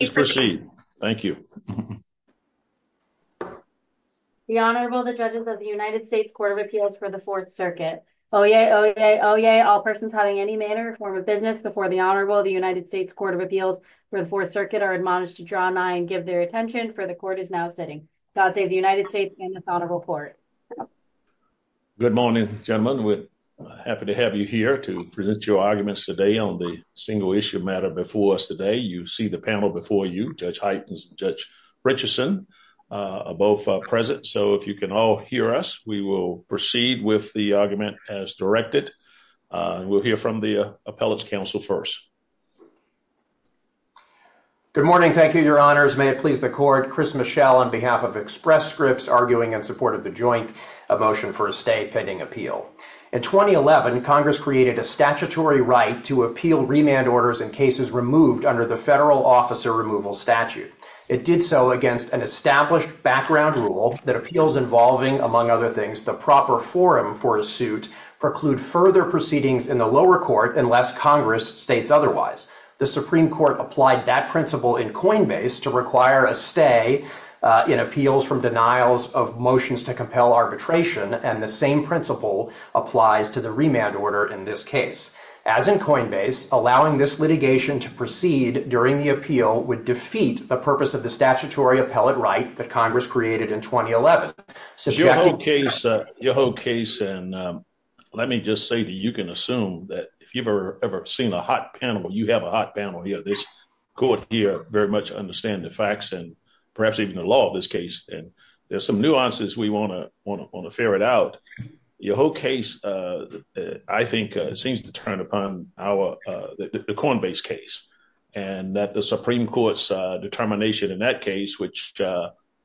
The Honorable, the judges of the United States Court of Appeals for the Fourth Circuit. Oyez! Oyez! All persons having any manner or form of business before the Honorable, the United States Court of Appeals for the Fourth Circuit, are admonished to draw nigh and give their attention, for the Court is now sitting. God save the United States and this Honorable Court. Good morning, gentlemen. We're happy to have you here to present your arguments today on the single-issue matter before us today. You see the panel before you, Judge Heitens and Judge Richardson, both present. So if you can all hear us, we will proceed with the argument as directed, and we'll hear from the Appellate's counsel first. Good morning. Thank you, Your Honors. May it please the Court. I'm the Appellate, Chris Michelle, on behalf of Express Scripts, arguing in support of the Joint Motion for a Stay pending Appeal. In 2011, Congress created a statutory right to appeal remand orders in cases removed under the Federal Officer Removal statute. It did so against an established background rule that appeals involving, among other things, the proper forum for a suit, preclude further proceedings in the lower court unless Congress states otherwise. The Supreme Court applied that principle in Coinbase to require a stay in appeals from denials of motions to compel arbitration, and the same principle applies to the remand order in this case. As in Coinbase, allowing this litigation to proceed during the appeal would defeat the purpose of the statutory appellate right that Congress created in 2011. Your whole case, and let me just say that you can assume that if you've ever seen a hot panel, you have a hot panel here, this court here very much understand the facts and perhaps even the law of this case, and there's some nuances we want to ferret out. Your whole case, I think, seems to turn upon our, the Coinbase case, and that the Supreme Court's determination in that case, which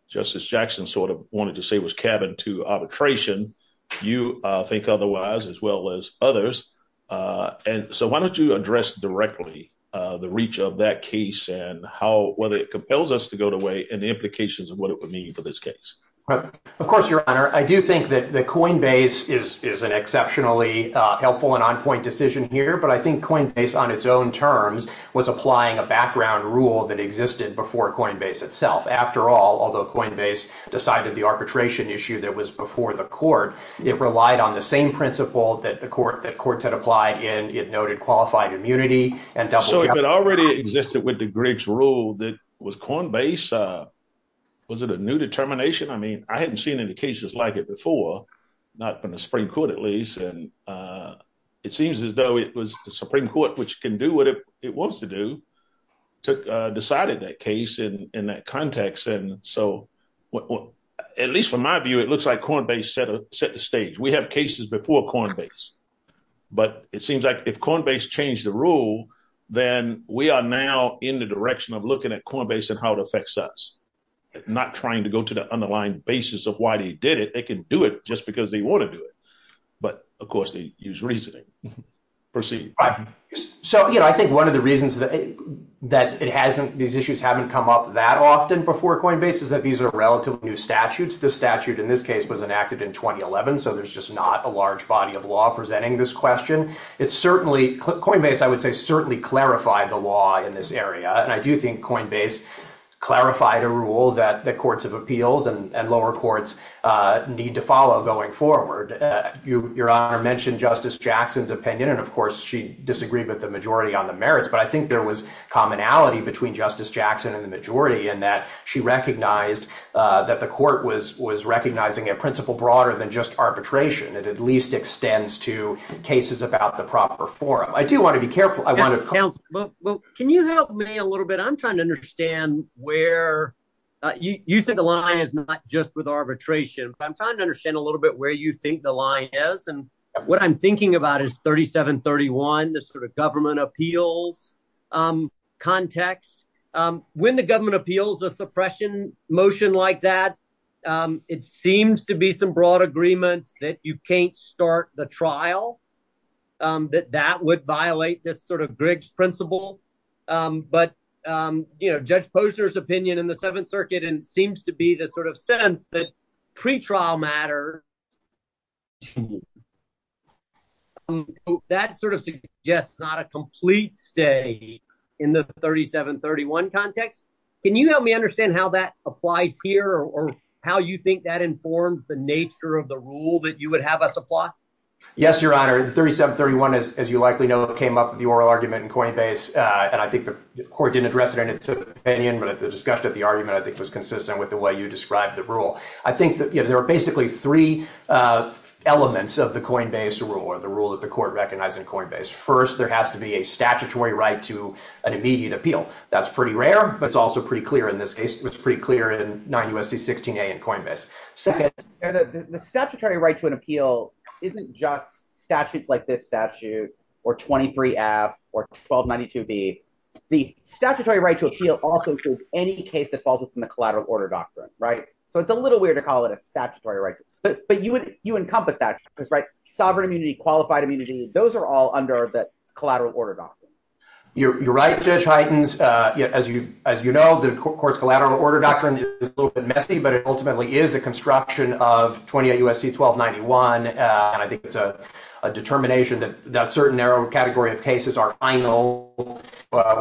Justice Jackson sort of wanted to say was cabin to arbitration, you think otherwise, as well as others. And so why don't you address directly the reach of that case and how, whether it compels us to go away, and the implications of what it would mean for this case. Of course, Your Honor, I do think that the Coinbase is an exceptionally helpful and on point decision here, but I think Coinbase on its own terms was applying a background rule that existed before Coinbase itself. After all, although Coinbase decided the arbitration issue that was before the court, it relied on the same principle that the court, that courts had applied in, it noted qualified immunity and double jeopardy. So if it already existed with the Griggs rule that was Coinbase, was it a new determination? I mean, I hadn't seen any cases like it before, not from the Supreme Court at least. And it seems as though it was the Supreme Court, which can do what it wants to do, decided that case in that context. And so, at least from my view, it looks like Coinbase set the stage. We have cases before Coinbase, but it seems like if Coinbase changed the rule, then we are now in the direction of looking at Coinbase and how it affects us, not trying to go to the underlying basis of why they did it. They can do it just because they want to do it. But of course, they use reasoning. So, you know, I think one of the reasons that these issues haven't come up that often before Coinbase is that these are relatively new statutes. This statute, in this case, was enacted in 2011. So there's just not a large body of law presenting this question. It's certainly Coinbase, I would say, certainly clarified the law in this area. And I do think Coinbase clarified a rule that the courts of appeals and lower courts need to follow going forward. Your Honor mentioned Justice Jackson's opinion, and of course, she disagreed with the majority on the merits. But I think there was commonality between Justice Jackson and the majority in that she recognized that the court was was recognizing a principle broader than just arbitration. It at least extends to cases about the proper forum. I do want to be careful. I want to counsel. Well, can you help me a little bit? I'm trying to understand where you think the line is, not just with arbitration. I'm trying to understand a little bit where you think the line is. And what I'm thinking about is 3731, the sort of government appeals context when the government appeals a suppression motion like that, it seems to be some broad agreement that you can't start the trial, that that would violate this sort of Griggs principle. But, you know, Judge Posner's opinion in the Seventh Circuit and seems to be the sort of sense that pretrial matter, that sort of suggests not a complete stay in the 3731 context. Can you help me understand how that applies here or how you think that informs the nature of the rule that you would have us apply? Yes, Your Honor, 3731, as you likely know, came up with the oral argument in Coinbase. And I think the court didn't address it in its opinion. But at the discussion, at the argument, I think was consistent with the way you described the rule. I think that there are basically three elements of the Coinbase rule or the rule that the court recognized in Coinbase. First, there has to be a statutory right to an immediate appeal. That's pretty rare, but it's also pretty clear in this case. It's pretty clear in 9 U.S.C. 16a in Coinbase. Second, the statutory right to an appeal isn't just statutes like this statute or 23 F or 1292 B. The statutory right to appeal also includes any case that falls within the collateral order doctrine. Right. So it's a little weird to call it a statutory right. But you would you encompass that because right. Sovereign immunity, qualified immunity, those are all under that collateral order. You're right, Judge Heitens. As you as you know, the court's collateral order doctrine is a little bit messy, but it ultimately is a construction of 28 U.S.C. 1291. And I think it's a determination that that certain narrow category of cases are final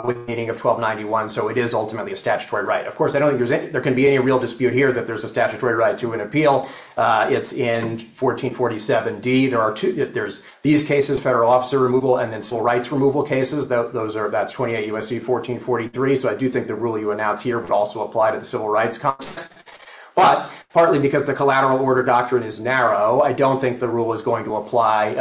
with meaning of 1291. So it is ultimately a statutory right. Of course, I don't think there can be any real dispute here that there's a statutory right to an appeal. It's in 1447 D. There are two. There's these cases, federal officer removal and then civil rights removal cases. Those are that's 28 U.S.C. 1443. So I do think the rule you announce here would also apply to the civil rights context. But partly because the collateral order doctrine is narrow, I don't think the rule is going to apply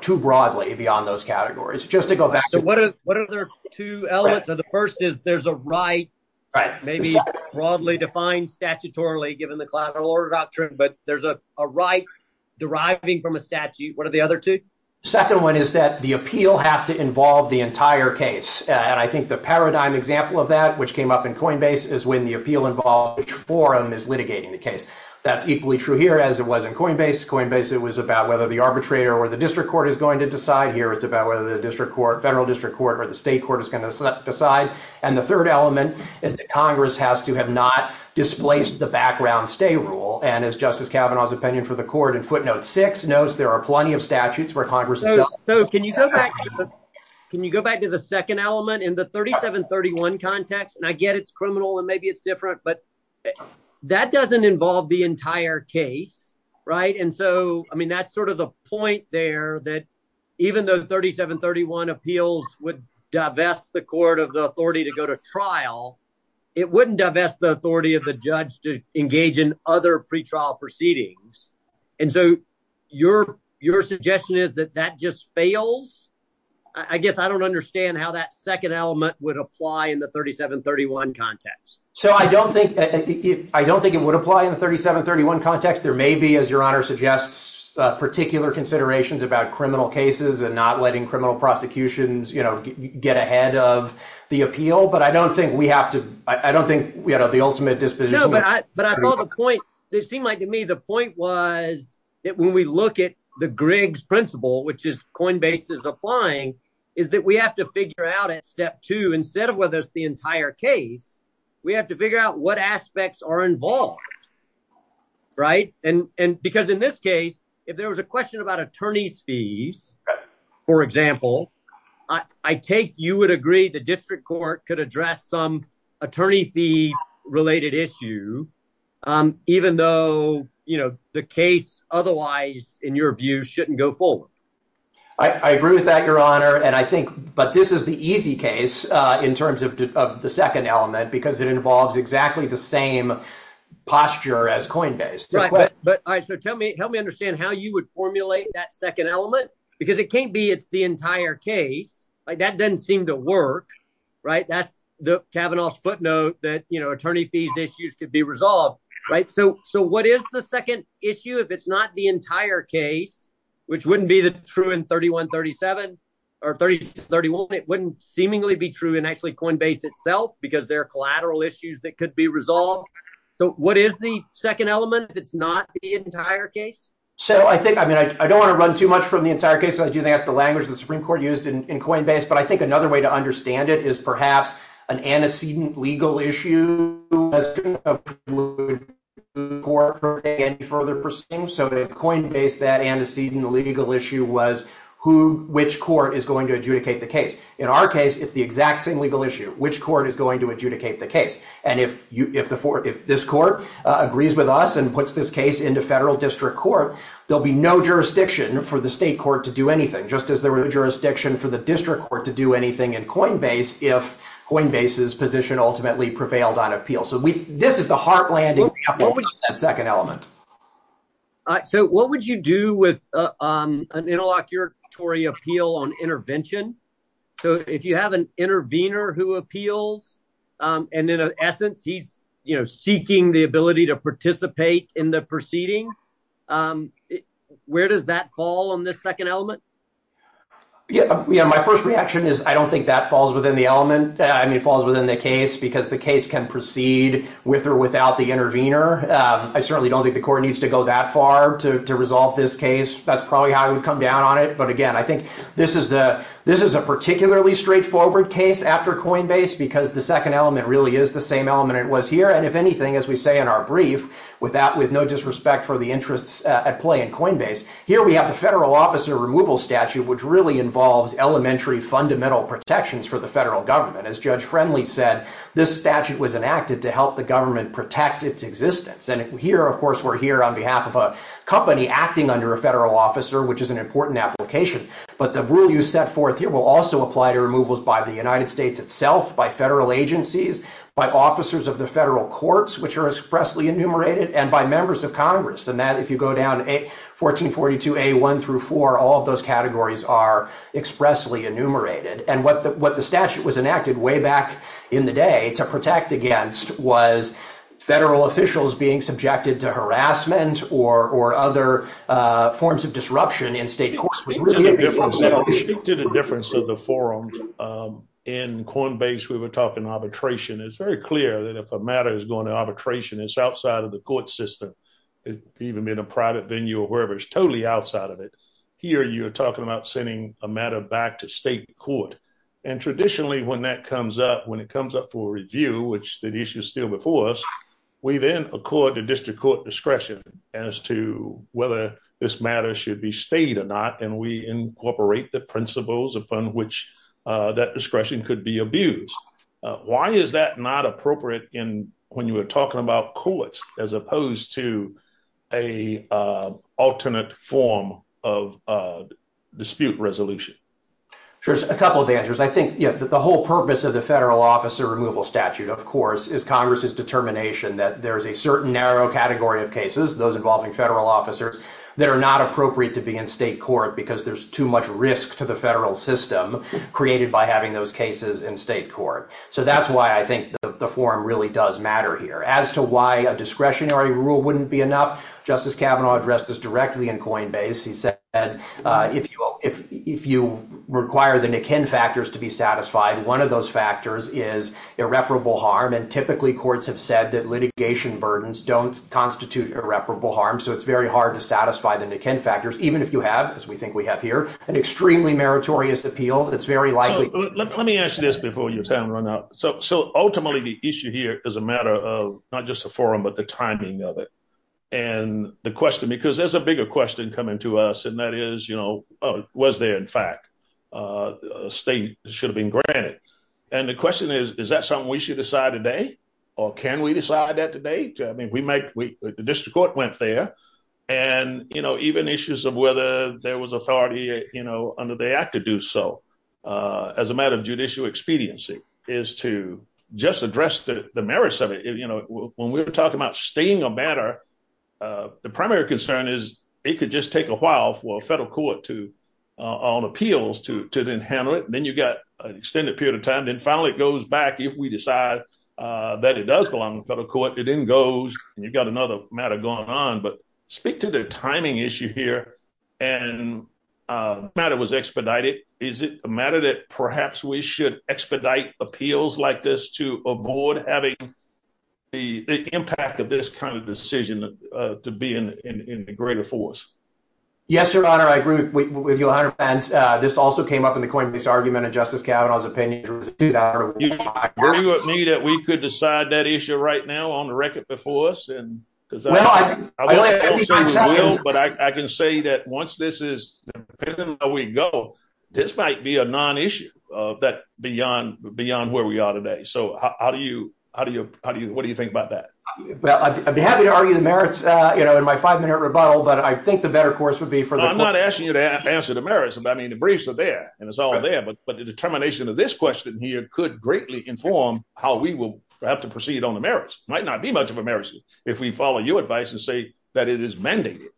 too broadly beyond those categories. Just to go back to what are the two elements of the first is there's a right, maybe broadly defined statutorily given the collateral order doctrine, but there's a right deriving from a statute. What are the other two? Second one is that the appeal has to involve the entire case. And I think the paradigm example of that which came up in Coinbase is when the appeal involved forum is litigating the case. That's equally true here as it was in Coinbase. Coinbase, it was about whether the arbitrator or the district court is going to decide here. It's about whether the district court, federal district court or the state court is going to decide. And the third element is that Congress has to have not displaced the background stay rule. And as Justice Kavanaugh's opinion for the court in footnote six notes, there are plenty of statutes where Congress. So can you go back? Can you go back to the second element in the 3731 context? And I get it's criminal and maybe it's different, but that doesn't involve the entire case. Right. And so, I mean, that's sort of the point there that even though the 3731 appeals would divest the court of the authority to go to trial, it wouldn't divest the authority of the judge to engage in other pretrial proceedings. And so your your suggestion is that that just fails. I guess I don't understand how that second element would apply in the 3731 context. So I don't think I don't think it would apply in the 3731 context. There may be, as your honor suggests, particular considerations about criminal cases and not letting criminal prosecutions, you know, get ahead of the appeal. But I don't think we have to I don't think we have the ultimate disposition. But I thought the point they seem like to me, the point was that when we look at the Griggs principle, which is Coinbase is applying, is that we have to figure out at step two instead of whether it's the entire case, we have to figure out what aspects are involved. Right. And because in this case, if there was a question about attorney's fees, for example, I take you would agree the district court could address some attorney fee related issue, even though, you know, the case otherwise, in your view, shouldn't go forward. I agree with that, your honor. And I think but this is the easy case in terms of the second element, because it involves exactly the same posture as Coinbase. But I so tell me, help me understand how you would formulate that second element, because it can't be it's the entire case like that doesn't seem to work. Right. That's the Kavanaugh's footnote that, you know, attorney fees issues could be resolved. Right. So so what is the second issue? If it's not the entire case, which wouldn't be the true in thirty one, thirty seven or thirty thirty one, it wouldn't seemingly be true. And actually, Coinbase itself, because there are collateral issues that could be resolved. So what is the second element? It's not the entire case. So I think I mean, I don't want to run too much from the entire case. I do think that's the language the Supreme Court used in Coinbase. But I think another way to understand it is perhaps an antecedent legal issue as a court for any further proceedings. So Coinbase, that antecedent legal issue was who which court is going to adjudicate the case. In our case, it's the exact same legal issue, which court is going to adjudicate the case. And if you if the if this court agrees with us and puts this case into federal district court, there'll be no jurisdiction for the state court to do anything, just as there were jurisdiction for the district court to do anything in Coinbase. If Coinbase's position ultimately prevailed on appeal. So this is the heartland. That second element. So what would you do with an interlocutory appeal on intervention? So if you have an intervener who appeals and in essence, he's seeking the ability to participate in the proceeding, where does that fall on this second element? Yeah, yeah. My first reaction is I don't think that falls within the element. I mean, it falls within the case because the case can proceed with or without the intervener. I certainly don't think the court needs to go that far to resolve this case. That's probably how I would come down on it. But again, I think this is the this is a particularly straightforward case after Coinbase, because the second element really is the same element it was here. And if anything, as we say in our brief, with that, with no disrespect for the interests at play in Coinbase, here we have the federal officer removal statute, which really involves elementary fundamental protections for the federal government. As Judge Friendly said, this statute was enacted to help the government protect its existence. And here, of course, we're here on behalf of a company acting under a federal officer, which is an important application. But the rule you set forth here will also apply to removals by the United States itself, by federal agencies, by officers of the federal courts, which are expressly enumerated, and by members of Congress. And that if you go down 1442A1 through four, all of those categories are expressly enumerated. And what the what the statute was enacted way back in the day to protect against was federal officials being subjected to harassment or other forms of disruption in state courts. We did a difference of the forum in Coinbase. We were talking arbitration. It's very clear that if a matter is going to arbitration, it's outside of the court system, even in a private venue or wherever, it's totally outside of it. Here you are talking about sending a matter back to state court. And traditionally, when that comes up, when it comes up for review, which the issue is still before us, we then accord the district court discretion as to whether this matter should be stayed or not. And we incorporate the principles upon which that discretion could be abused. Why is that not appropriate in when you are talking about courts as opposed to a alternate form of dispute resolution? There's a couple of answers. I think the whole purpose of the federal officer removal statute, of course, is Congress's determination that there is a certain narrow category of cases, those involving federal officers that are not appropriate to be in state court because there's too much risk to the federal system created by having those cases in state court. So that's why I think the forum really does matter here as to why a discretionary rule wouldn't be enough. Justice Kavanaugh addressed this directly in Coinbase. He said, if you require the Nikin factors to be satisfied, one of those factors is irreparable harm. And typically, courts have said that litigation burdens don't constitute irreparable harm. So it's very hard to satisfy the Nikin factors, even if you have, as we think we have here, an extremely meritorious appeal. It's very likely. Let me ask you this before you run out. So ultimately, the issue here is a matter of not just a forum, but the timing of it. And the question, because there's a bigger question coming to us, and that is, was there, in fact, a state should have been granted. And the question is, is that something we should decide today or can we decide that today? I mean, we make the district court went there and even issues of whether there was authority under the act to do so as a matter of judicial expediency is to just address the merits of it. You know, when we're talking about staying a matter, the primary concern is it could just take a while for a federal court to on appeals to to then handle it. Then you've got an extended period of time. Then finally, it goes back. If we decide that it does belong to the court, it then goes and you've got another matter going on. But speak to the timing issue here. And the matter was expedited. Is it a matter that perhaps we should expedite appeals like this to avoid having the impact of this kind of decision to be in the greater force? Yes, your honor, I agree with your honor. And this also came up in the Coinbase argument. And Justice Kavanaugh's opinion was that we could decide that issue right now on the record before us. And because I can say that once this is where we go, this might be a non issue that beyond beyond where we are today. So how do you how do you how do you what do you think about that? Well, I'd be happy to argue the merits, you know, in my five minute rebuttal. But I think the better course would be for I'm not asking you to answer the merits. And I mean, the briefs are there and it's all there. But but the determination of this question here could greatly inform how we will have to proceed on the merits might not be much of a marriage. If we follow your advice and say that it is mandated.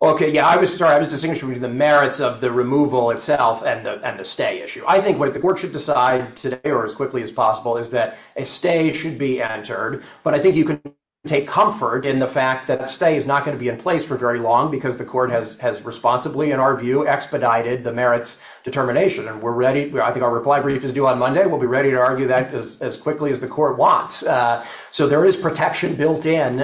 OK, yeah, I was sorry. I was distinguished from the merits of the removal itself and the stay issue. I think what the court should decide today or as quickly as possible is that a stay should be entered. But I think you can take comfort in the fact that stay is not going to be in place for very long because the court has has responsibly, in our view, expedited the merits determination. And we're ready. I think our reply brief is due on Monday. We'll be ready to argue that as quickly as the court wants. So there is protection built in.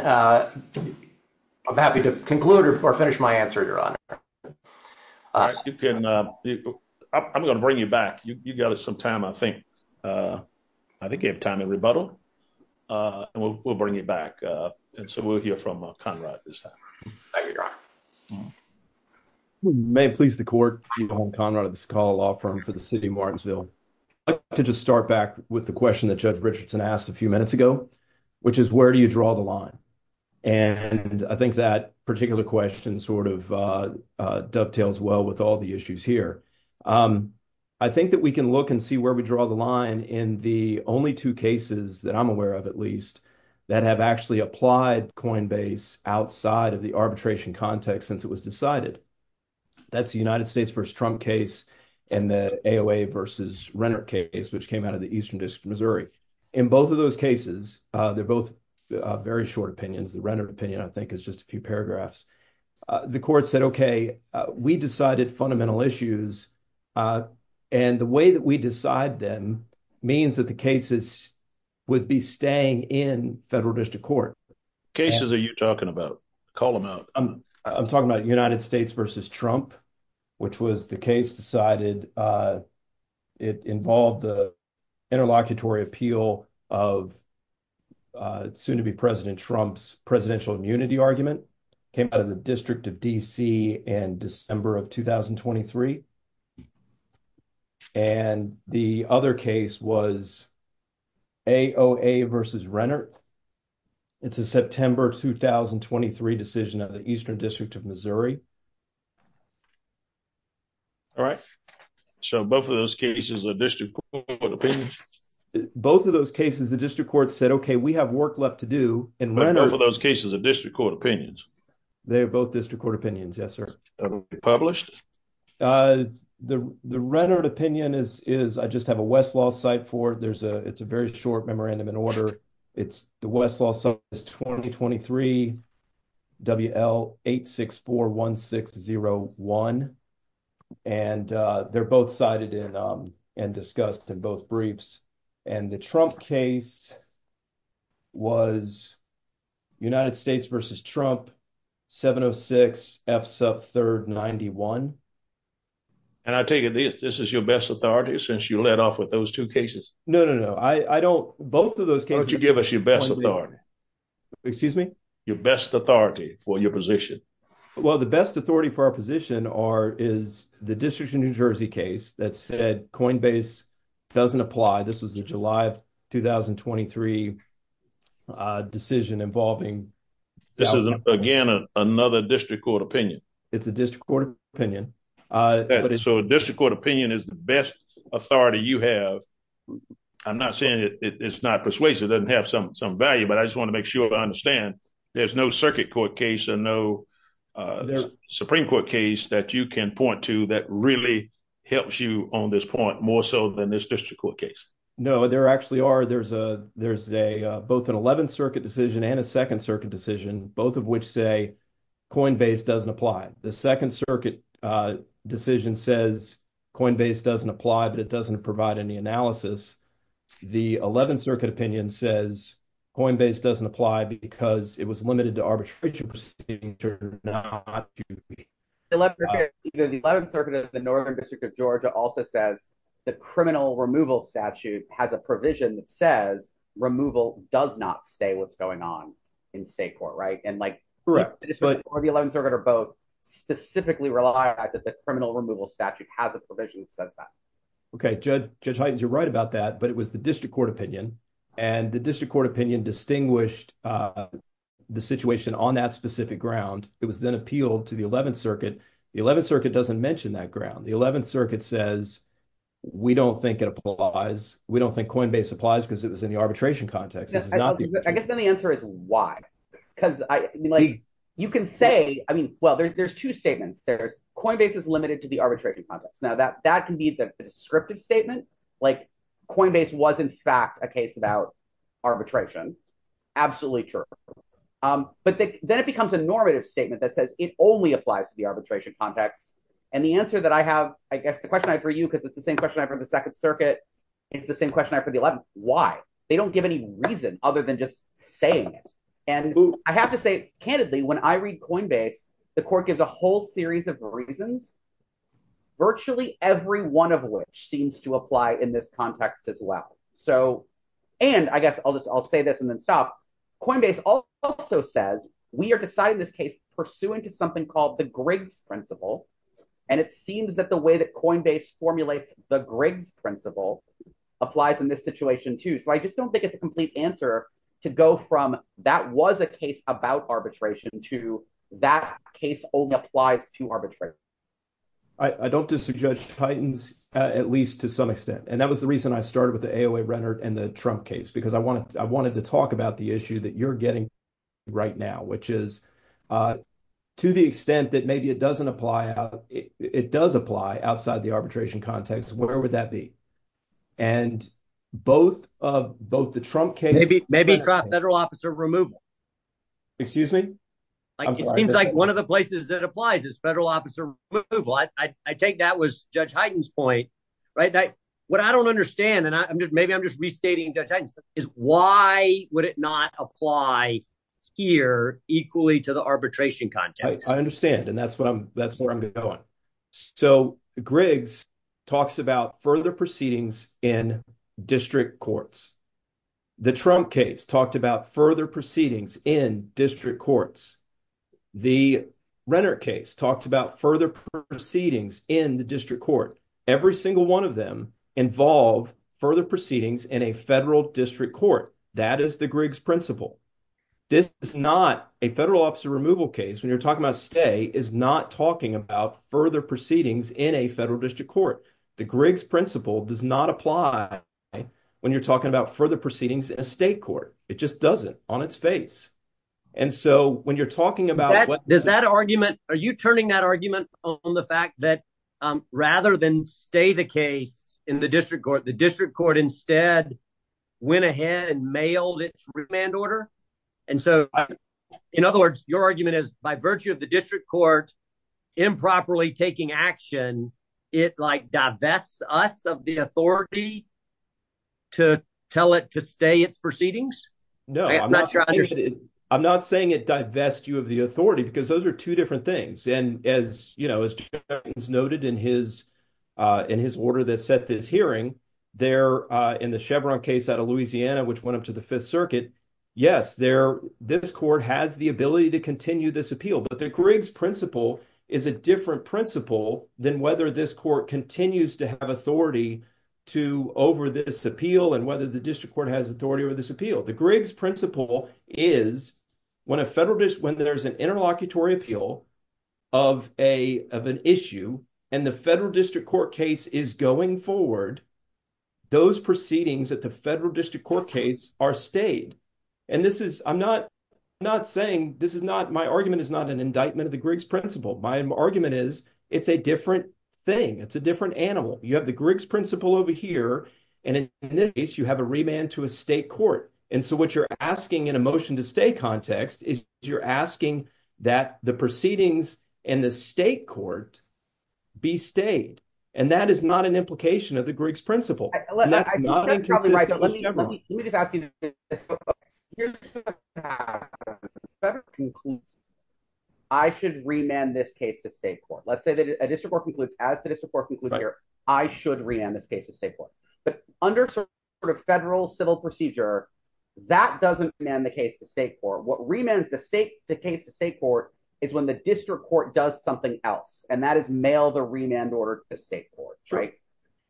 I'm happy to conclude or finish my answer, your honor. You can. I'm going to bring you back. You got some time, I think. I think you have time to rebuttal and we'll bring you back. And so we'll hear from Conrad this time. Thank you, your honor. We may please the court. Conrad, this call law firm for the city of Martinsville to just start back with the question that Judge Richardson asked a few minutes ago, which is where do you draw the line? And I think that particular question sort of dovetails well with all the issues here. I think that we can look and see where we draw the line in the only two cases that I'm aware of, at least that have actually applied Coinbase outside of the arbitration context since it was decided. That's the United States versus Trump case and the AOA versus Renner case, which came out of the Eastern District of Missouri. In both of those cases, they're both very short opinions. The Renner opinion, I think, is just a few paragraphs. The court said, OK, we decided fundamental issues and the way that we decide them means that the cases would be staying in federal district court. Cases are you talking about? Call them out. I'm talking about United States versus Trump, which was the case decided. It involved the interlocutory appeal of soon to be President Trump's presidential immunity argument came out of the District of D.C. and December of 2023. And the other case was AOA versus Renner. It's a September 2023 decision of the Eastern District of Missouri. All right. So both of those cases are district court opinions. Both of those cases, the district court said, OK, we have work left to do. And both of those cases are district court opinions. They are both district court opinions. Yes, sir. Published? The Renner opinion is I just have a Westlaw site for it. There's a it's a very short memorandum in order. It's the Westlaw, so it's 2023. W.L. eight six four one six zero one. And they're both cited in and discussed in both briefs. And the Trump case was United States versus Trump. Seven of six F's up third ninety one. And I take it this is your best authority since you let off with those two cases. No, no, no. I don't. Both of those. Don't you give us your best authority? Excuse me. Your best authority for your position. Well, the best authority for our position are is the district in New Jersey case that said Coinbase doesn't apply. This was the July of 2023 decision involving. This is, again, another district court opinion. It's a district court opinion. So a district court opinion is the best authority you have. I'm not saying it's not persuasive, doesn't have some some value, but I just want to make sure I understand there's no circuit court case and no Supreme Court case that you can point to that really helps you on this point more so than this district court case. No, there actually are. There's a there's a both an 11th Circuit decision and a second circuit decision, both of which say Coinbase doesn't apply. The second circuit decision says Coinbase doesn't apply, but it doesn't provide any analysis. The 11th Circuit opinion says Coinbase doesn't apply because it was limited to arbitration proceeding to not do the 11th Circuit of the Northern District of Georgia also says the criminal removal statute has a provision that says removal does not stay what's going on in state court. Right. And like the 11th Circuit are both specifically relied on that the criminal removal statute has a provision that says that. OK, Judge, Judge, you're right about that. But it was the district court opinion and the district court opinion distinguished the situation on that specific ground. It was then appealed to the 11th Circuit. The 11th Circuit doesn't mention that ground. The 11th Circuit says we don't think it applies. We don't think Coinbase applies because it was in the arbitration context. I guess then the answer is why? Because you can say, I mean, well, there's two statements. There's Coinbase is limited to the arbitration process. Now, that that can be the descriptive statement like Coinbase was, in fact, a case about arbitration. Absolutely true. But then it becomes a normative statement that says it only applies to the arbitration context. And the answer that I have, I guess the question I for you, because it's the same question I for the second circuit. It's the same question I for the 11th. Why? They don't give any reason other than just saying it. And I have to say, candidly, when I read Coinbase, the court gives a whole series of reasons, virtually every one of which seems to apply in this context as well. So and I guess I'll just I'll say this and then stop. Coinbase also says we are deciding this case pursuant to something called the Griggs principle. And it seems that the way that Coinbase formulates the Griggs principle applies in this situation, too. So I just don't think it's a complete answer to go from that was a case about arbitration to that case only applies to arbitrate. I don't just judge Titans, at least to some extent. And that was the reason I started with the A.O.A. Rennert and the Trump case, because I wanted I wanted to talk about the issue that you're getting right now, which is to the extent that maybe it doesn't apply out. It does apply outside the arbitration context. Where would that be? And both of both the Trump case, maybe maybe a federal officer removal. Excuse me. I just seems like one of the places that applies is federal officer. I take that was Judge Heiden's point, right? What I don't understand, and I'm just maybe I'm just restating is why would it not apply here equally to the arbitration context? I understand. And that's what I'm that's where I'm going. So Griggs talks about further proceedings in district courts. The Trump case talked about further proceedings in district courts. The Rennert case talked about further proceedings in the district court. Every single one of them involve further proceedings in a federal district court. That is the Griggs principle. This is not a federal officer removal case. When you're talking about stay is not talking about further proceedings in a federal district court. The Griggs principle does not apply when you're talking about further proceedings in a state court. It just doesn't on its face. And so when you're talking about that, does that argument, are you turning that argument on the fact that rather than stay the case in the district court, the district court instead went ahead and mailed it to remand order? And so, in other words, your argument is by virtue of the district court improperly taking action, it like divests us of the authority. To tell it to stay, it's proceedings. No, I'm not sure. I'm not saying it divests you of the authority, because those are two different things. And as you know, it's noted in his in his order that set this hearing there in the Chevron case out of Louisiana, which went up to the Fifth Circuit. Yes, there this court has the ability to continue this appeal. But the Griggs principle is a different principle than whether this court continues to have authority to over this appeal and whether the district court has authority over this appeal. The Griggs principle is when a federal district, when there's an interlocutory appeal of a of an issue and the federal district court case is going forward. Those proceedings at the federal district court case are stayed. And this is I'm not not saying this is not my argument is not an indictment of the Griggs principle. My argument is it's a different thing. It's a different animal. You have the Griggs principle over here. And in this case, you have a remand to a state court. And so what you're asking in a motion to stay context is you're asking that the proceedings in the state court be stayed. And that is not an implication of the Griggs principle. That's not right. But let me let me just ask you this. Here's the fact that it concludes. I should remand this case to state court. Let's say that a district court concludes as the district court concludes here. I should remand this case to state court. But under sort of federal civil procedure that doesn't demand the case to state court. What remands the state to case to state court is when the district court does something else. And that is mail the remand order to state court. Right.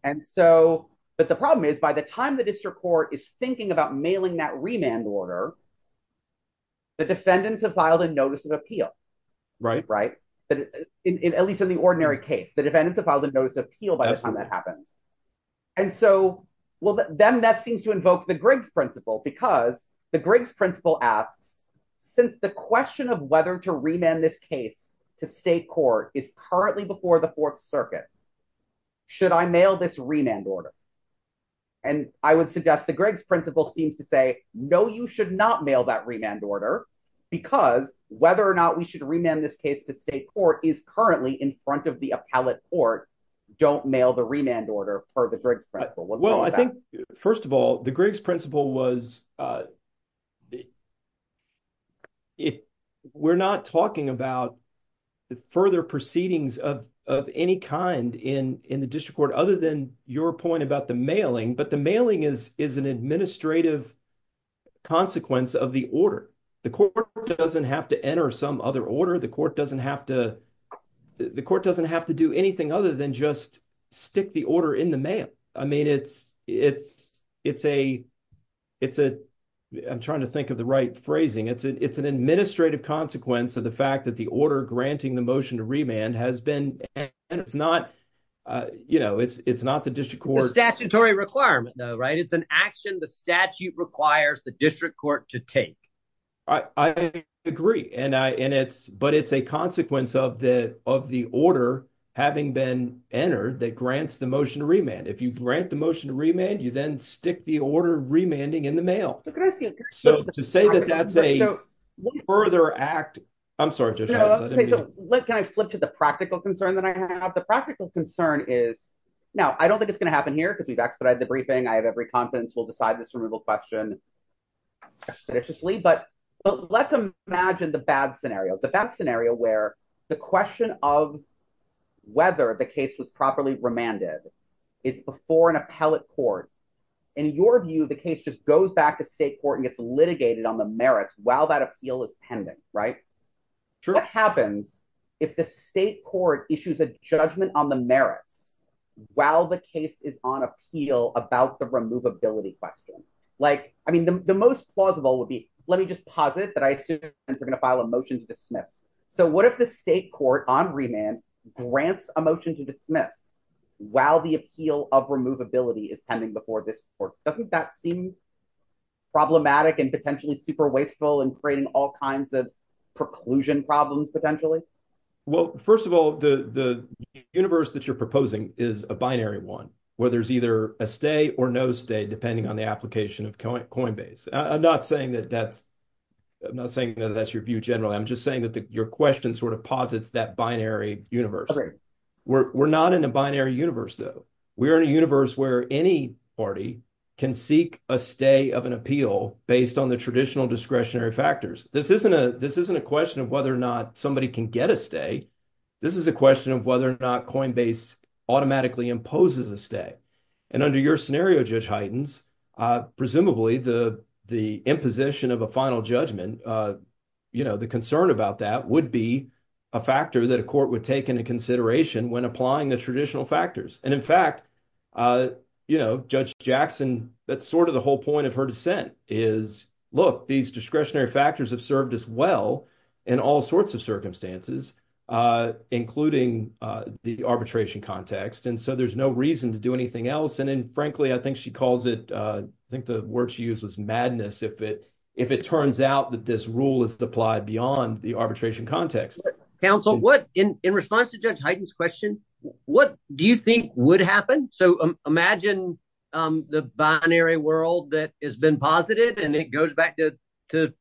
And so but the problem is, by the time the district court is thinking about mailing that remand order. The defendants have filed a notice of appeal. Right. Right. But at least in the ordinary case, the defendants have filed a notice of appeal by the time that happens. And so, well, then that seems to invoke the Griggs principle because the Griggs principle asks, since the question of whether to remand this case to state court is currently before the Fourth Circuit. Should I mail this remand order? And I would suggest the Griggs principle seems to say, no, you should not mail that remand order because whether or not we should remand this case to state court is currently in front of the appellate court. Don't mail the remand order for the Griggs principle. Well, I think, first of all, the Griggs principle was. If we're not talking about the further proceedings of of any kind in in the district court, other than your point about the mailing, but the mailing is is an administrative consequence of the order. The court doesn't have to enter some other order. The court doesn't have to the court doesn't have to do anything other than just stick the order in the mail. I mean, it's it's it's a it's a I'm trying to think of the right phrasing. It's it's an administrative consequence of the fact that the order granting the motion to remand has been and it's not. You know, it's it's not the district court statutory requirement, right? It's an action. The statute requires the district court to take. I agree. And I and it's but it's a consequence of the of the order having been entered that grants the motion to remand. If you grant the motion to remand, you then stick the order remanding in the mail. So to say that that's a further act. I'm sorry to say so. What can I flip to the practical concern that I have? The practical concern is now I don't think it's going to happen here because we've expedited the briefing. I have every confidence we'll decide this removal question judiciously, but let's imagine the bad scenario, the bad scenario where the question of whether the case was properly remanded is before an appellate court. In your view, the case just goes back to state court and gets litigated on the merits while that appeal is pending. Right. True. What happens if the state court issues a judgment on the merits while the case is on appeal about the removability question? Like I mean, the most plausible would be let me just posit that I assume they're going to file a motion to dismiss. So what if the state court on remand grants a motion to dismiss while the appeal of removability is pending before this court? Doesn't that seem problematic and potentially super wasteful and creating all kinds of preclusion problems potentially? Well, first of all, the the universe that you're proposing is a binary one where there's either a stay or no stay, depending on the application of Coinbase. I'm not saying that that's I'm not saying that that's your view generally. I'm just saying that your question sort of posits that binary universe. We're not in a binary universe, though. We are in a universe where any party can seek a stay of an appeal based on the traditional discretionary factors. This isn't a this isn't a question of whether or not somebody can get a stay. This is a question of whether or not Coinbase automatically imposes a stay. And under your scenario, Judge Heitens, presumably the the imposition of a final judgment, you know, the concern about that would be a factor that a court would take into consideration when applying the traditional factors. And in fact, you know, Judge Jackson, that's sort of the whole point of her dissent is, look, these discretionary factors have served us well in all sorts of circumstances, including the arbitration context. And so there's no reason to do anything else. And frankly, I think she calls it I think the word she used was madness. If it if it turns out that this rule is applied beyond the arbitration context. Counsel, what in response to Judge Heitens question, what do you think would happen? So imagine the binary world that has been posited and it goes back to to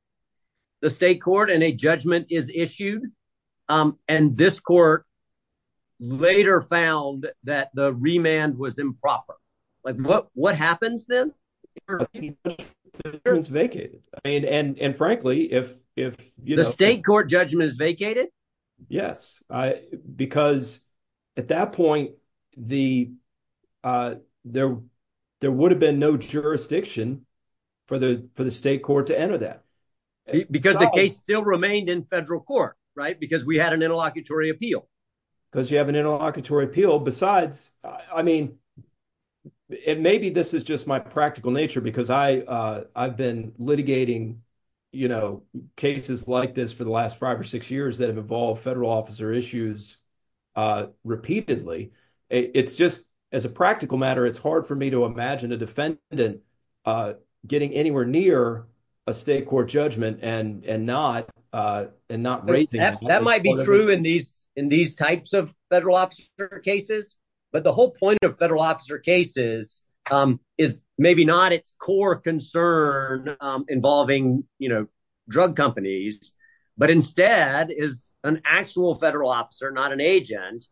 the state court and a judgment is issued. And this court later found that the remand was improper. But what what happens then? It's vacated. I mean, and frankly, if if the state court judgment is vacated. Yes. Because at that point, the there there would have been no jurisdiction for the for the state court to enter that because the case still remained in federal court. Right. Because we had an interlocutory appeal because you have an interlocutory appeal. Besides, I mean, it may be this is just my practical nature, because I I've been litigating, you know, cases like this for the last five or six years that have evolved federal officer issues repeatedly. It's just as a practical matter, it's hard for me to imagine a defendant getting anywhere near a state court judgment and and not and not. That might be true in these in these types of federal officer cases. But the whole point of federal officer cases is maybe not its core concern involving, you know, drug companies, but instead is an actual federal officer, not an agent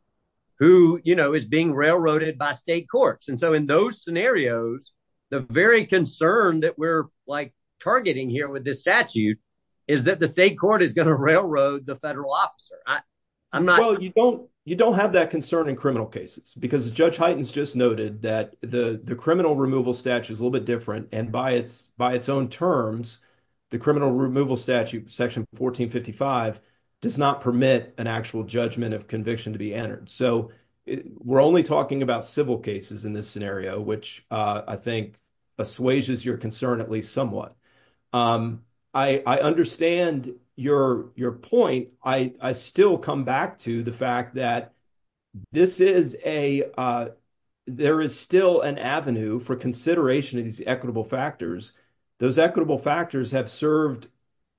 who, you know, is being railroaded by state courts. And so in those scenarios, the very concern that we're like targeting here with this statute is that the state court is going to railroad the federal officer. I'm not. Well, you don't you don't have that concern in criminal cases because Judge Heitens just noted that the the criminal removal statute is a little bit different. And by its by its own terms, the criminal removal statute, Section 1455 does not permit an actual judgment of conviction to be entered. So we're only talking about civil cases in this scenario, which I think assuages your concern at least somewhat. I understand your your point. I still come back to the fact that this is a there is still an avenue for consideration of these equitable factors. Those equitable factors have served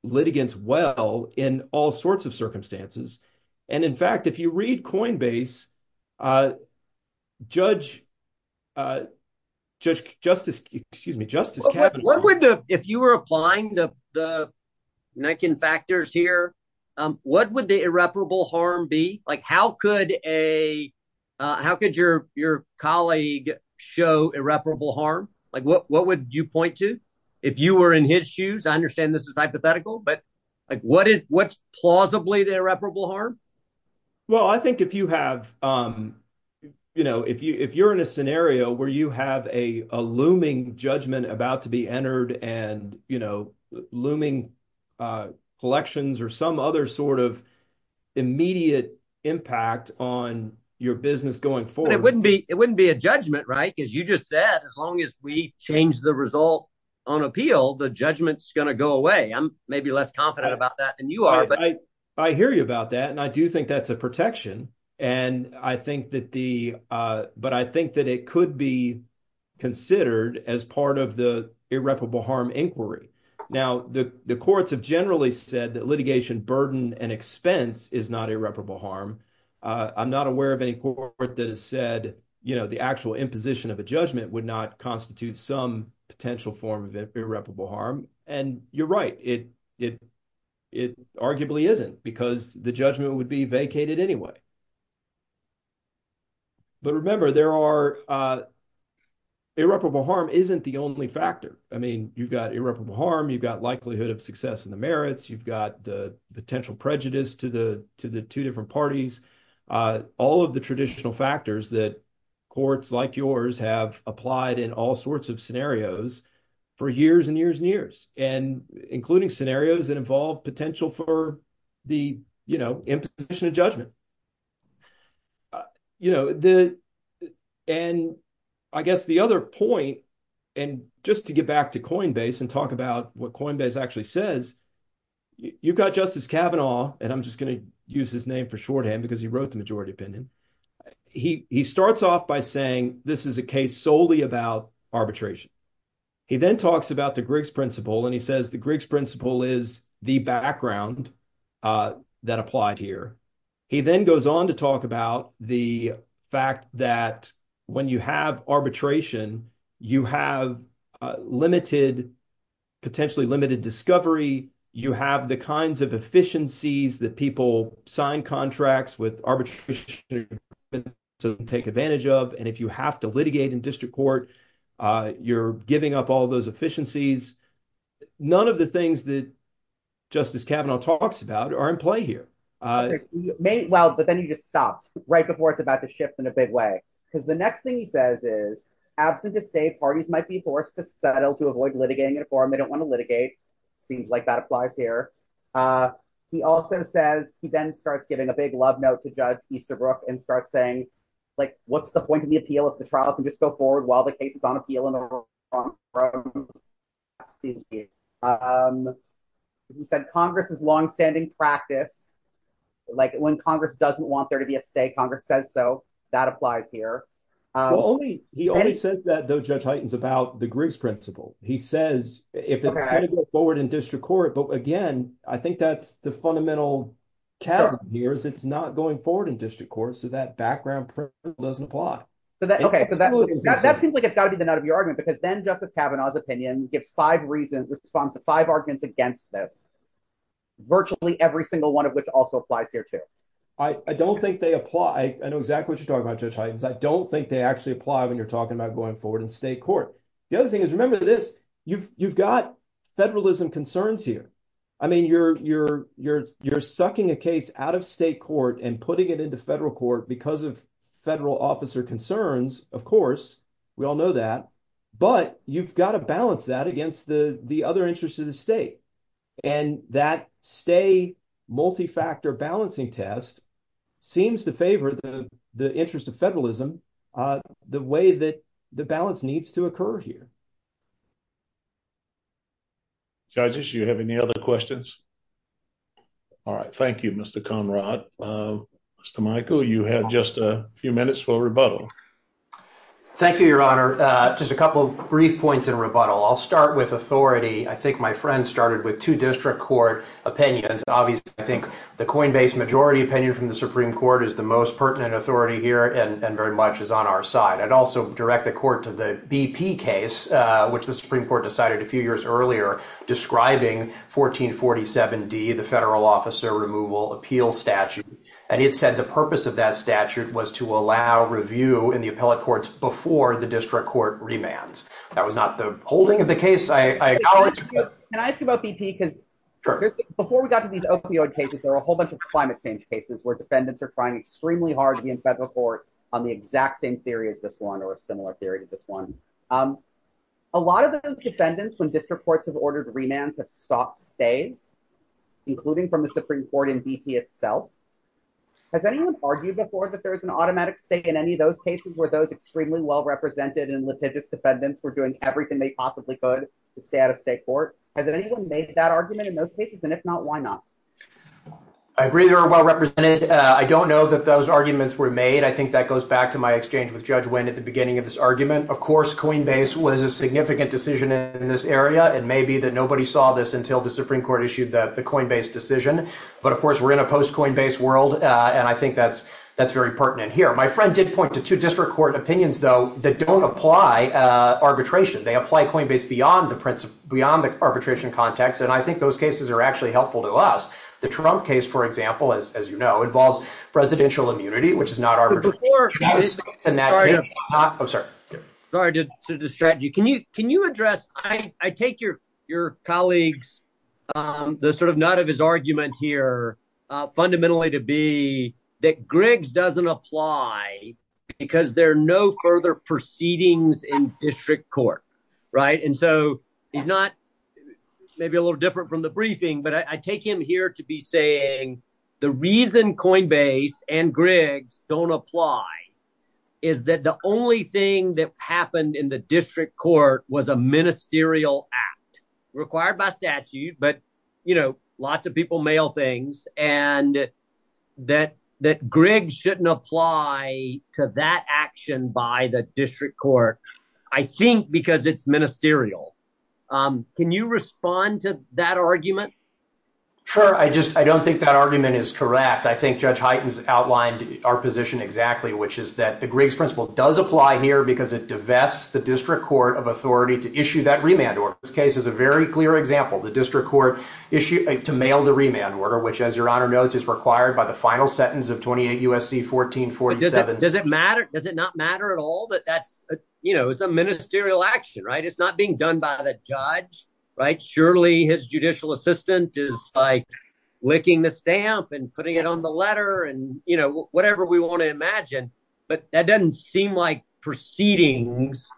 litigants well in all sorts of circumstances. And in fact, if you read Coinbase, Judge Justice, excuse me, Justice, what would the if you were applying the the Niken factors here? What would the irreparable harm be like? How could a how could your your colleague show irreparable harm? Like what what would you point to if you were in his shoes? I understand this is hypothetical, but like what is what's plausibly the irreparable harm? Well, I think if you have, you know, if you if you're in a scenario where you have a looming judgment about to be entered and, you know, looming collections or some other sort of immediate impact on your business going forward, it wouldn't be it wouldn't be a judgment. Right. As you just said, as long as we change the result on appeal, the judgment's going to go away. I'm maybe less confident about that than you are. But I I hear you about that. And I do think that's a protection. And I think that the but I think that it could be considered as part of the irreparable harm inquiry. Now, the courts have generally said that litigation burden and expense is not irreparable harm. I'm not aware of any court that has said, you know, the actual imposition of a judgment would not constitute some potential form of irreparable harm. And you're right, it it it arguably isn't because the judgment would be vacated anyway. But remember, there are irreparable harm isn't the only factor. I mean, you've got irreparable harm, you've got likelihood of success in the merits, you've got the potential prejudice to the to the two different parties, all of the traditional factors that courts like yours have applied in all sorts of scenarios for years and years and years, and including scenarios that involve potential for the imposition of judgment. You know, the and I guess the other point, and just to get back to Coinbase and talk about what Coinbase actually says, you've got Justice Kavanaugh, and I'm just going to use his name for shorthand because he wrote the majority opinion. He starts off by saying this is a case solely about arbitration. He then talks about the Griggs principle and he says the Griggs principle is the background that applied here. He then goes on to talk about the fact that when you have arbitration, you have limited, potentially limited discovery, you have the kinds of efficiencies that people sign contracts with arbitration to take advantage of. And if you have to litigate in district court, you're giving up all those efficiencies. None of the things that Justice Kavanaugh talks about are in play here. Well, but then you just stopped right before it's about to shift in a big way, because the next thing he says is absent to state parties might be forced to settle to avoid litigating a form. They don't want to litigate. Seems like that applies here. He also says he then starts giving a big love note to Judge Easterbrook and start saying, like, what's the point of the appeal if the trial can just go forward while the case is on appeal? And I'm from SDSU. He said Congress's longstanding practice, like when Congress doesn't want there to be a state, Congress says so. That applies here. Only he only says that, though, Judge Highton's about the Griggs principle. He says if it's going to go forward in district court. But again, I think that's the fundamental chasm here is it's not going forward in district court. So that background doesn't apply. So that OK, so that seems like it's got to be the nut of your argument, because then Justice Kavanaugh's opinion gives five reasons, responds to five arguments against this. Virtually every single one of which also applies here, too. I don't think they apply. I know exactly what you're talking about, Judge Highton. I don't think they actually apply when you're talking about going forward in state court. The other thing is, remember this, you've you've got federalism concerns here. I mean, you're you're you're you're sucking a case out of state court and putting it into federal court because of federal officer concerns. Of course, we all know that. But you've got to balance that against the the other interests of the state. And that stay multi-factor balancing test seems to favor the the interest of federalism, the way that the balance needs to occur here. Judges, you have any other questions? All right. Thank you, Mr. Conrad. Mr. Michael, you have just a few minutes for rebuttal. Thank you, Your Honor. Just a couple of brief points in rebuttal. I'll start with authority. I think my friend started with two district court opinions. Obviously, I think the Coinbase majority opinion from the Supreme Court is the most pertinent authority here and very much is on our side. I'd also direct the court to the BP case, which the Supreme Court decided a few years earlier, describing 1447 D, the federal officer removal appeal statute. And it said the purpose of that statute was to allow review in the appellate courts before the district court remands. That was not the holding of the case. I acknowledge. And I ask you about BP, because before we got to these opioid cases, there are a whole bunch of climate change cases where defendants are trying extremely hard to be in federal court on the exact same theory as this one or a similar theory to this one. A lot of those defendants, when district courts have ordered remands, have sought stays, including from the Supreme Court and BP itself. Has anyone argued before that there is an automatic state in any of those cases where those extremely well represented and litigious defendants were doing everything they possibly could to stay out of state court? Has anyone made that argument in those cases? And if not, why not? I agree they're well represented. I don't know that those arguments were made. I think that goes back to my exchange with Judge Wynn at the beginning of this argument. Of course, Coinbase was a significant decision in this area. And maybe that nobody saw this until the Supreme Court issued that the Coinbase decision. But of course, we're in a post Coinbase world. And I think that's that's very pertinent here. My friend did point to two district court opinions, though, that don't apply arbitration. They apply Coinbase beyond the beyond the arbitration context. And I think those cases are actually helpful to us. The Trump case, for example, as you know, involves presidential immunity, which is not arbitration. Sorry to distract you. Can you can you address I take your your colleagues, the sort of nut of his argument here fundamentally to be that Griggs doesn't apply because there are no further proceedings in district court. Right. And so he's not maybe a little different from the briefing. But I take him here to be saying the reason Coinbase and Griggs don't apply is that the only thing that happened in the district court was a ministerial act required by statute. But, you know, lots of people mail things and that that Griggs shouldn't apply to that action by the district court, I think because it's ministerial. Can you respond to that argument? Sure. I just I don't think that argument is correct. I think Judge Heitens outlined our position exactly, which is that the Griggs principle does apply here because it divests the district court of authority to issue that remand order. This case is a very clear example. The district court issued to mail the remand order, which, as your honor notes, is required by the final sentence of 28 U.S.C. 1447. Does it matter? Does it not matter at all that that's, you know, it's a ministerial action, right? It's not being done by the judge, right? Surely his judicial assistant is like licking the stamp and putting it on the letter and, you know, whatever we want to imagine. But that doesn't seem like proceedings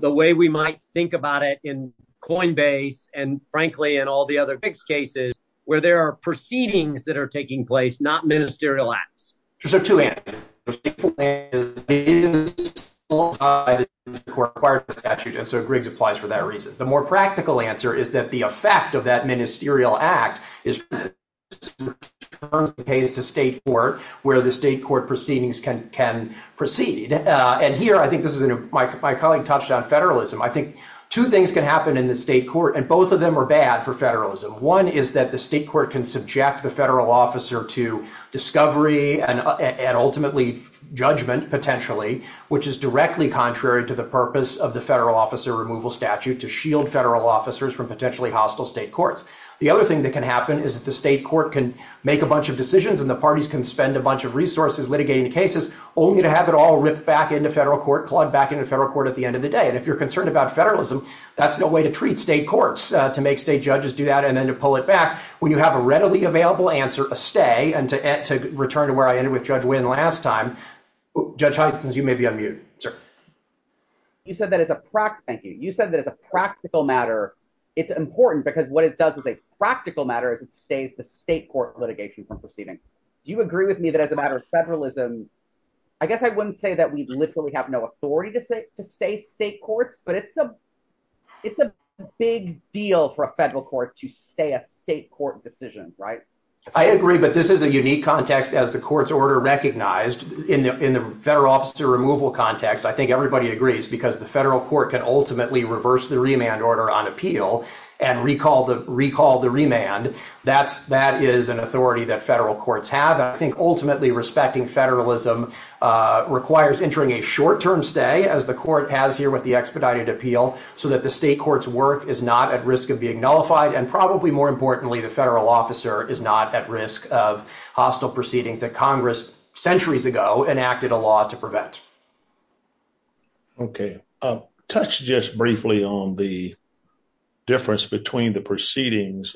the way we might think about it in Coinbase and frankly, in all the other cases where there are proceedings that are taking place, not ministerial acts. So to add to that, And so Griggs applies for that reason. The more practical answer is that the effect of that ministerial act is the case to state court where the state court proceedings can can proceed. And here I think this is my colleague touched on federalism. I think two things can happen in the state court, and both of them are bad for federalism. One is that the state court can subject the federal officer to discovery and ultimately judgment, potentially, which is directly contrary to the purpose of the federal officer removal statute to shield federal officers from potentially hostile state courts. The other thing that can happen is the state court can make a bunch of decisions and the parties can spend a bunch of resources litigating the cases only to have it all ripped back into federal court, plugged back into federal court at the end of the day. And if you're concerned about federalism, that's no way to treat state courts, to make state judges do that and then to pull it back when you have a readily available answer, a stay. And to return to where I ended with Judge Wynn last time, Judge Huygens, you may be on mute. Sir. You said that as a practice, you said that as a practical matter, it's important because what it does is a practical matter as it stays the state court litigation from proceeding. Do you agree with me that as a matter of federalism? I guess I wouldn't say that we literally have no authority to say to stay state courts, but it's a it's a big deal for a federal court to stay a state court decision, right? I agree. But this is a unique context as the court's order recognized in the in the federal officer removal context. I think everybody agrees because the federal court can ultimately reverse the remand order on appeal and recall the recall the remand. That's that is an authority that federal courts have. I think ultimately respecting federalism requires entering a short term stay as the court has here with the expedited appeal so that the state court's work is not at risk of being nullified. And probably more importantly, the federal officer is not at risk of hostile proceedings that Congress centuries ago enacted a law to prevent. OK, touch just briefly on the. Difference between the proceedings,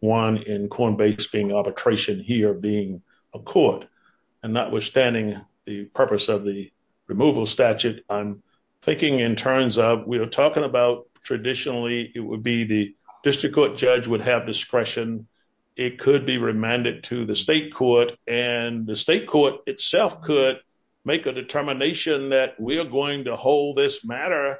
one in corn base being arbitration here being a court and notwithstanding the purpose of the removal statute, I'm thinking in terms of we are talking about traditionally it would be the district court judge would have discretion. It could be remanded to the state court and the state court itself could make a determination that we are going to hold this matter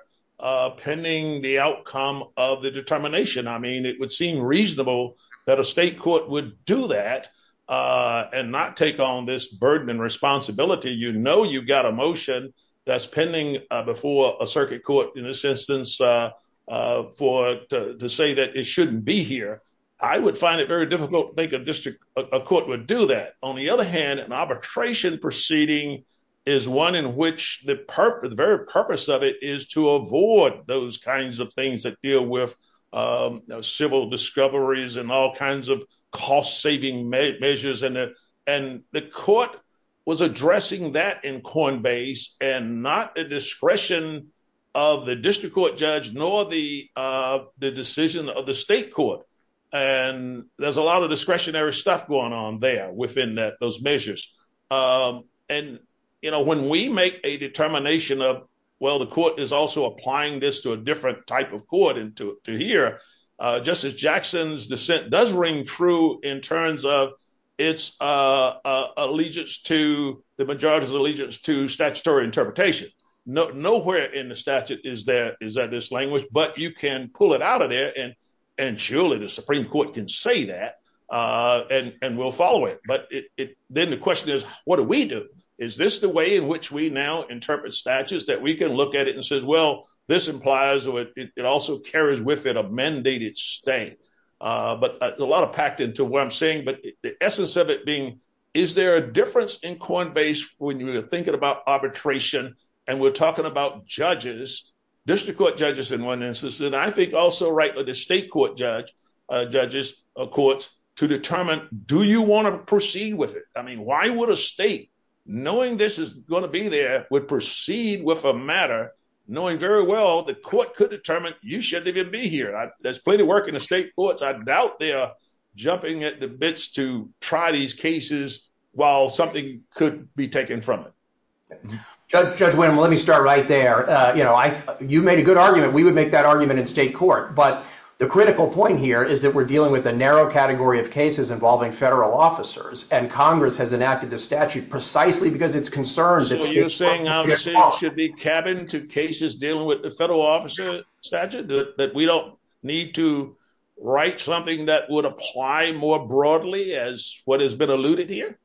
pending the outcome of the determination. I mean, it would seem reasonable that a state court would do that and not take on this burden and responsibility. You know, you've got a motion that's pending before a circuit court in this instance for to say that it shouldn't be here. I would find it very difficult to think a district court would do that. On the other hand, an arbitration proceeding is one in which the purpose, the very purpose of it is to avoid those kinds of things that deal with civil discoveries and all kinds of cost saving measures. And and the court was addressing that in corn base and not a discretion of the district court judge, nor the the decision of the state court. And there's a lot of discretionary stuff going on there within those measures. And, you know, when we make a determination of, well, the court is also applying this to a different type of court and to hear Justice Jackson's dissent does ring true in terms of its allegiance to the majority's allegiance to statutory interpretation. Nowhere in the statute is there is that this language, but you can pull it out of there and and surely the Supreme Court can say that and we'll follow it. But then the question is, what do we do? Is this the way in which we now interpret statutes that we can look at it and says, well, this implies it also carries with it a mandated state. But a lot of packed into what I'm saying. But the essence of it being, is there a difference in corn base when you're thinking about arbitration and we're talking about judges, district court judges in one instance, and I think also right with the state court judge judges, a court to determine, do you want to proceed with it? I mean, why would a state knowing this is going to be there would proceed with a matter knowing very well the court could determine you shouldn't even be here. There's plenty of work in the state courts. I doubt they are jumping at the bits to try these cases while something could be taken from it. Judge Judge, let me start right there. You know, you made a good argument. We would make that argument in state court. But the critical point here is that we're dealing with a narrow category of cases involving federal officers, and Congress has enacted the statute precisely because it's concerned that you're saying it should be cabin to cases dealing with the federal officer statute, that we don't need to write something that would apply more broadly as what has been alluded here.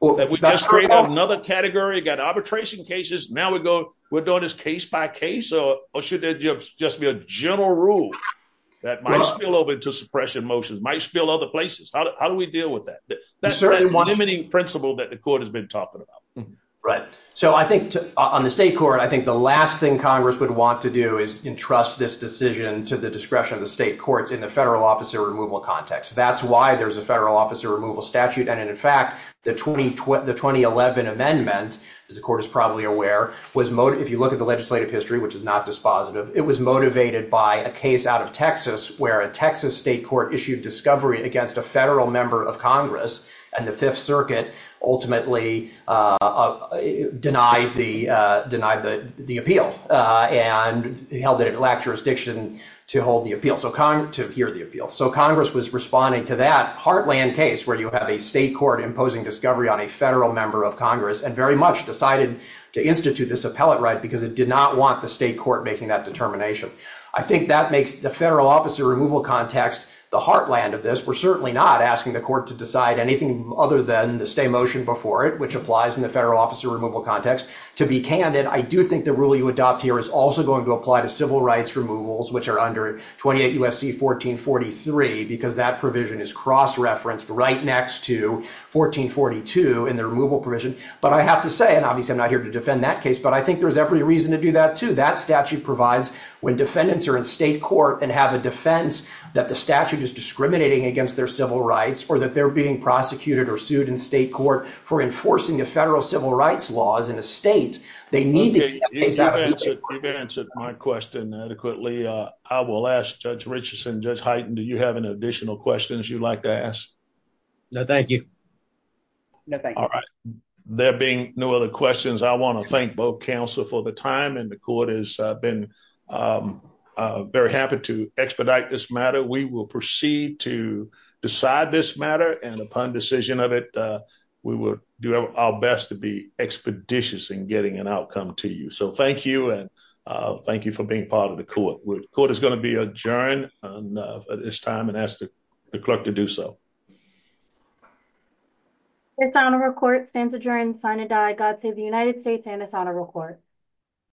Well, that would just create another category. Got arbitration cases. Now we go. We're doing this case by case. So should there just be a general rule that might spill over into suppression motions, might spill other places? How do we deal with that? That's certainly one limiting principle that the court has been talking about. Right. So I think on the state court, I think the last thing Congress would want to do is entrust this decision to the discretion of the state courts in the federal officer removal context. That's why there's a federal officer removal statute. And in fact, the twenty the twenty eleven amendment, as the court is probably aware, was if you look at the legislative history, which is not dispositive, it was motivated by a case out of Texas where a Texas state court issued discovery against a federal member of Congress and the Fifth Circuit ultimately denied the denied the appeal and held that it lacked jurisdiction to hold the appeal. So to hear the appeal. So Congress was responding to that heartland case where you have a state court imposing discovery on a federal member of Congress and very much decided to institute this appellate right because it did not want the state court making that determination. I think that makes the federal officer removal context the heartland of this. We're certainly not asking the court to decide anything other than the stay motion before it, which applies in the federal officer removal context. To be candid, I do think the rule you adopt here is also going to apply to civil rights removals, which are under twenty eight U.S.C. fourteen forty three, because that provision is cross referenced right next to fourteen forty two in the removal provision. But I have to say, and obviously I'm not here to defend that case, but I think there's every reason to do that, too. That statute provides when defendants are in state court and have a defense that the statute is discriminating against their civil rights or that they're being prosecuted or sued in state court for enforcing the federal civil rights laws in the state. They need to be exactly what my question adequately. I will ask Judge Richardson, Judge Heighton, do you have any additional questions you'd like to ask? No, thank you. No, thank you. All right. There being no other questions, I want to thank both counsel for the time and the court has been very happy to expedite this matter. We will proceed to decide this matter. And upon decision of it, we will do our best to be expeditious in getting an outcome to you. So thank you. And thank you for being part of the court. Court is going to be adjourned this time and ask the clerk to do so. It's on a record. Stands adjourned. Sign and die. God save the United States and it's on a record.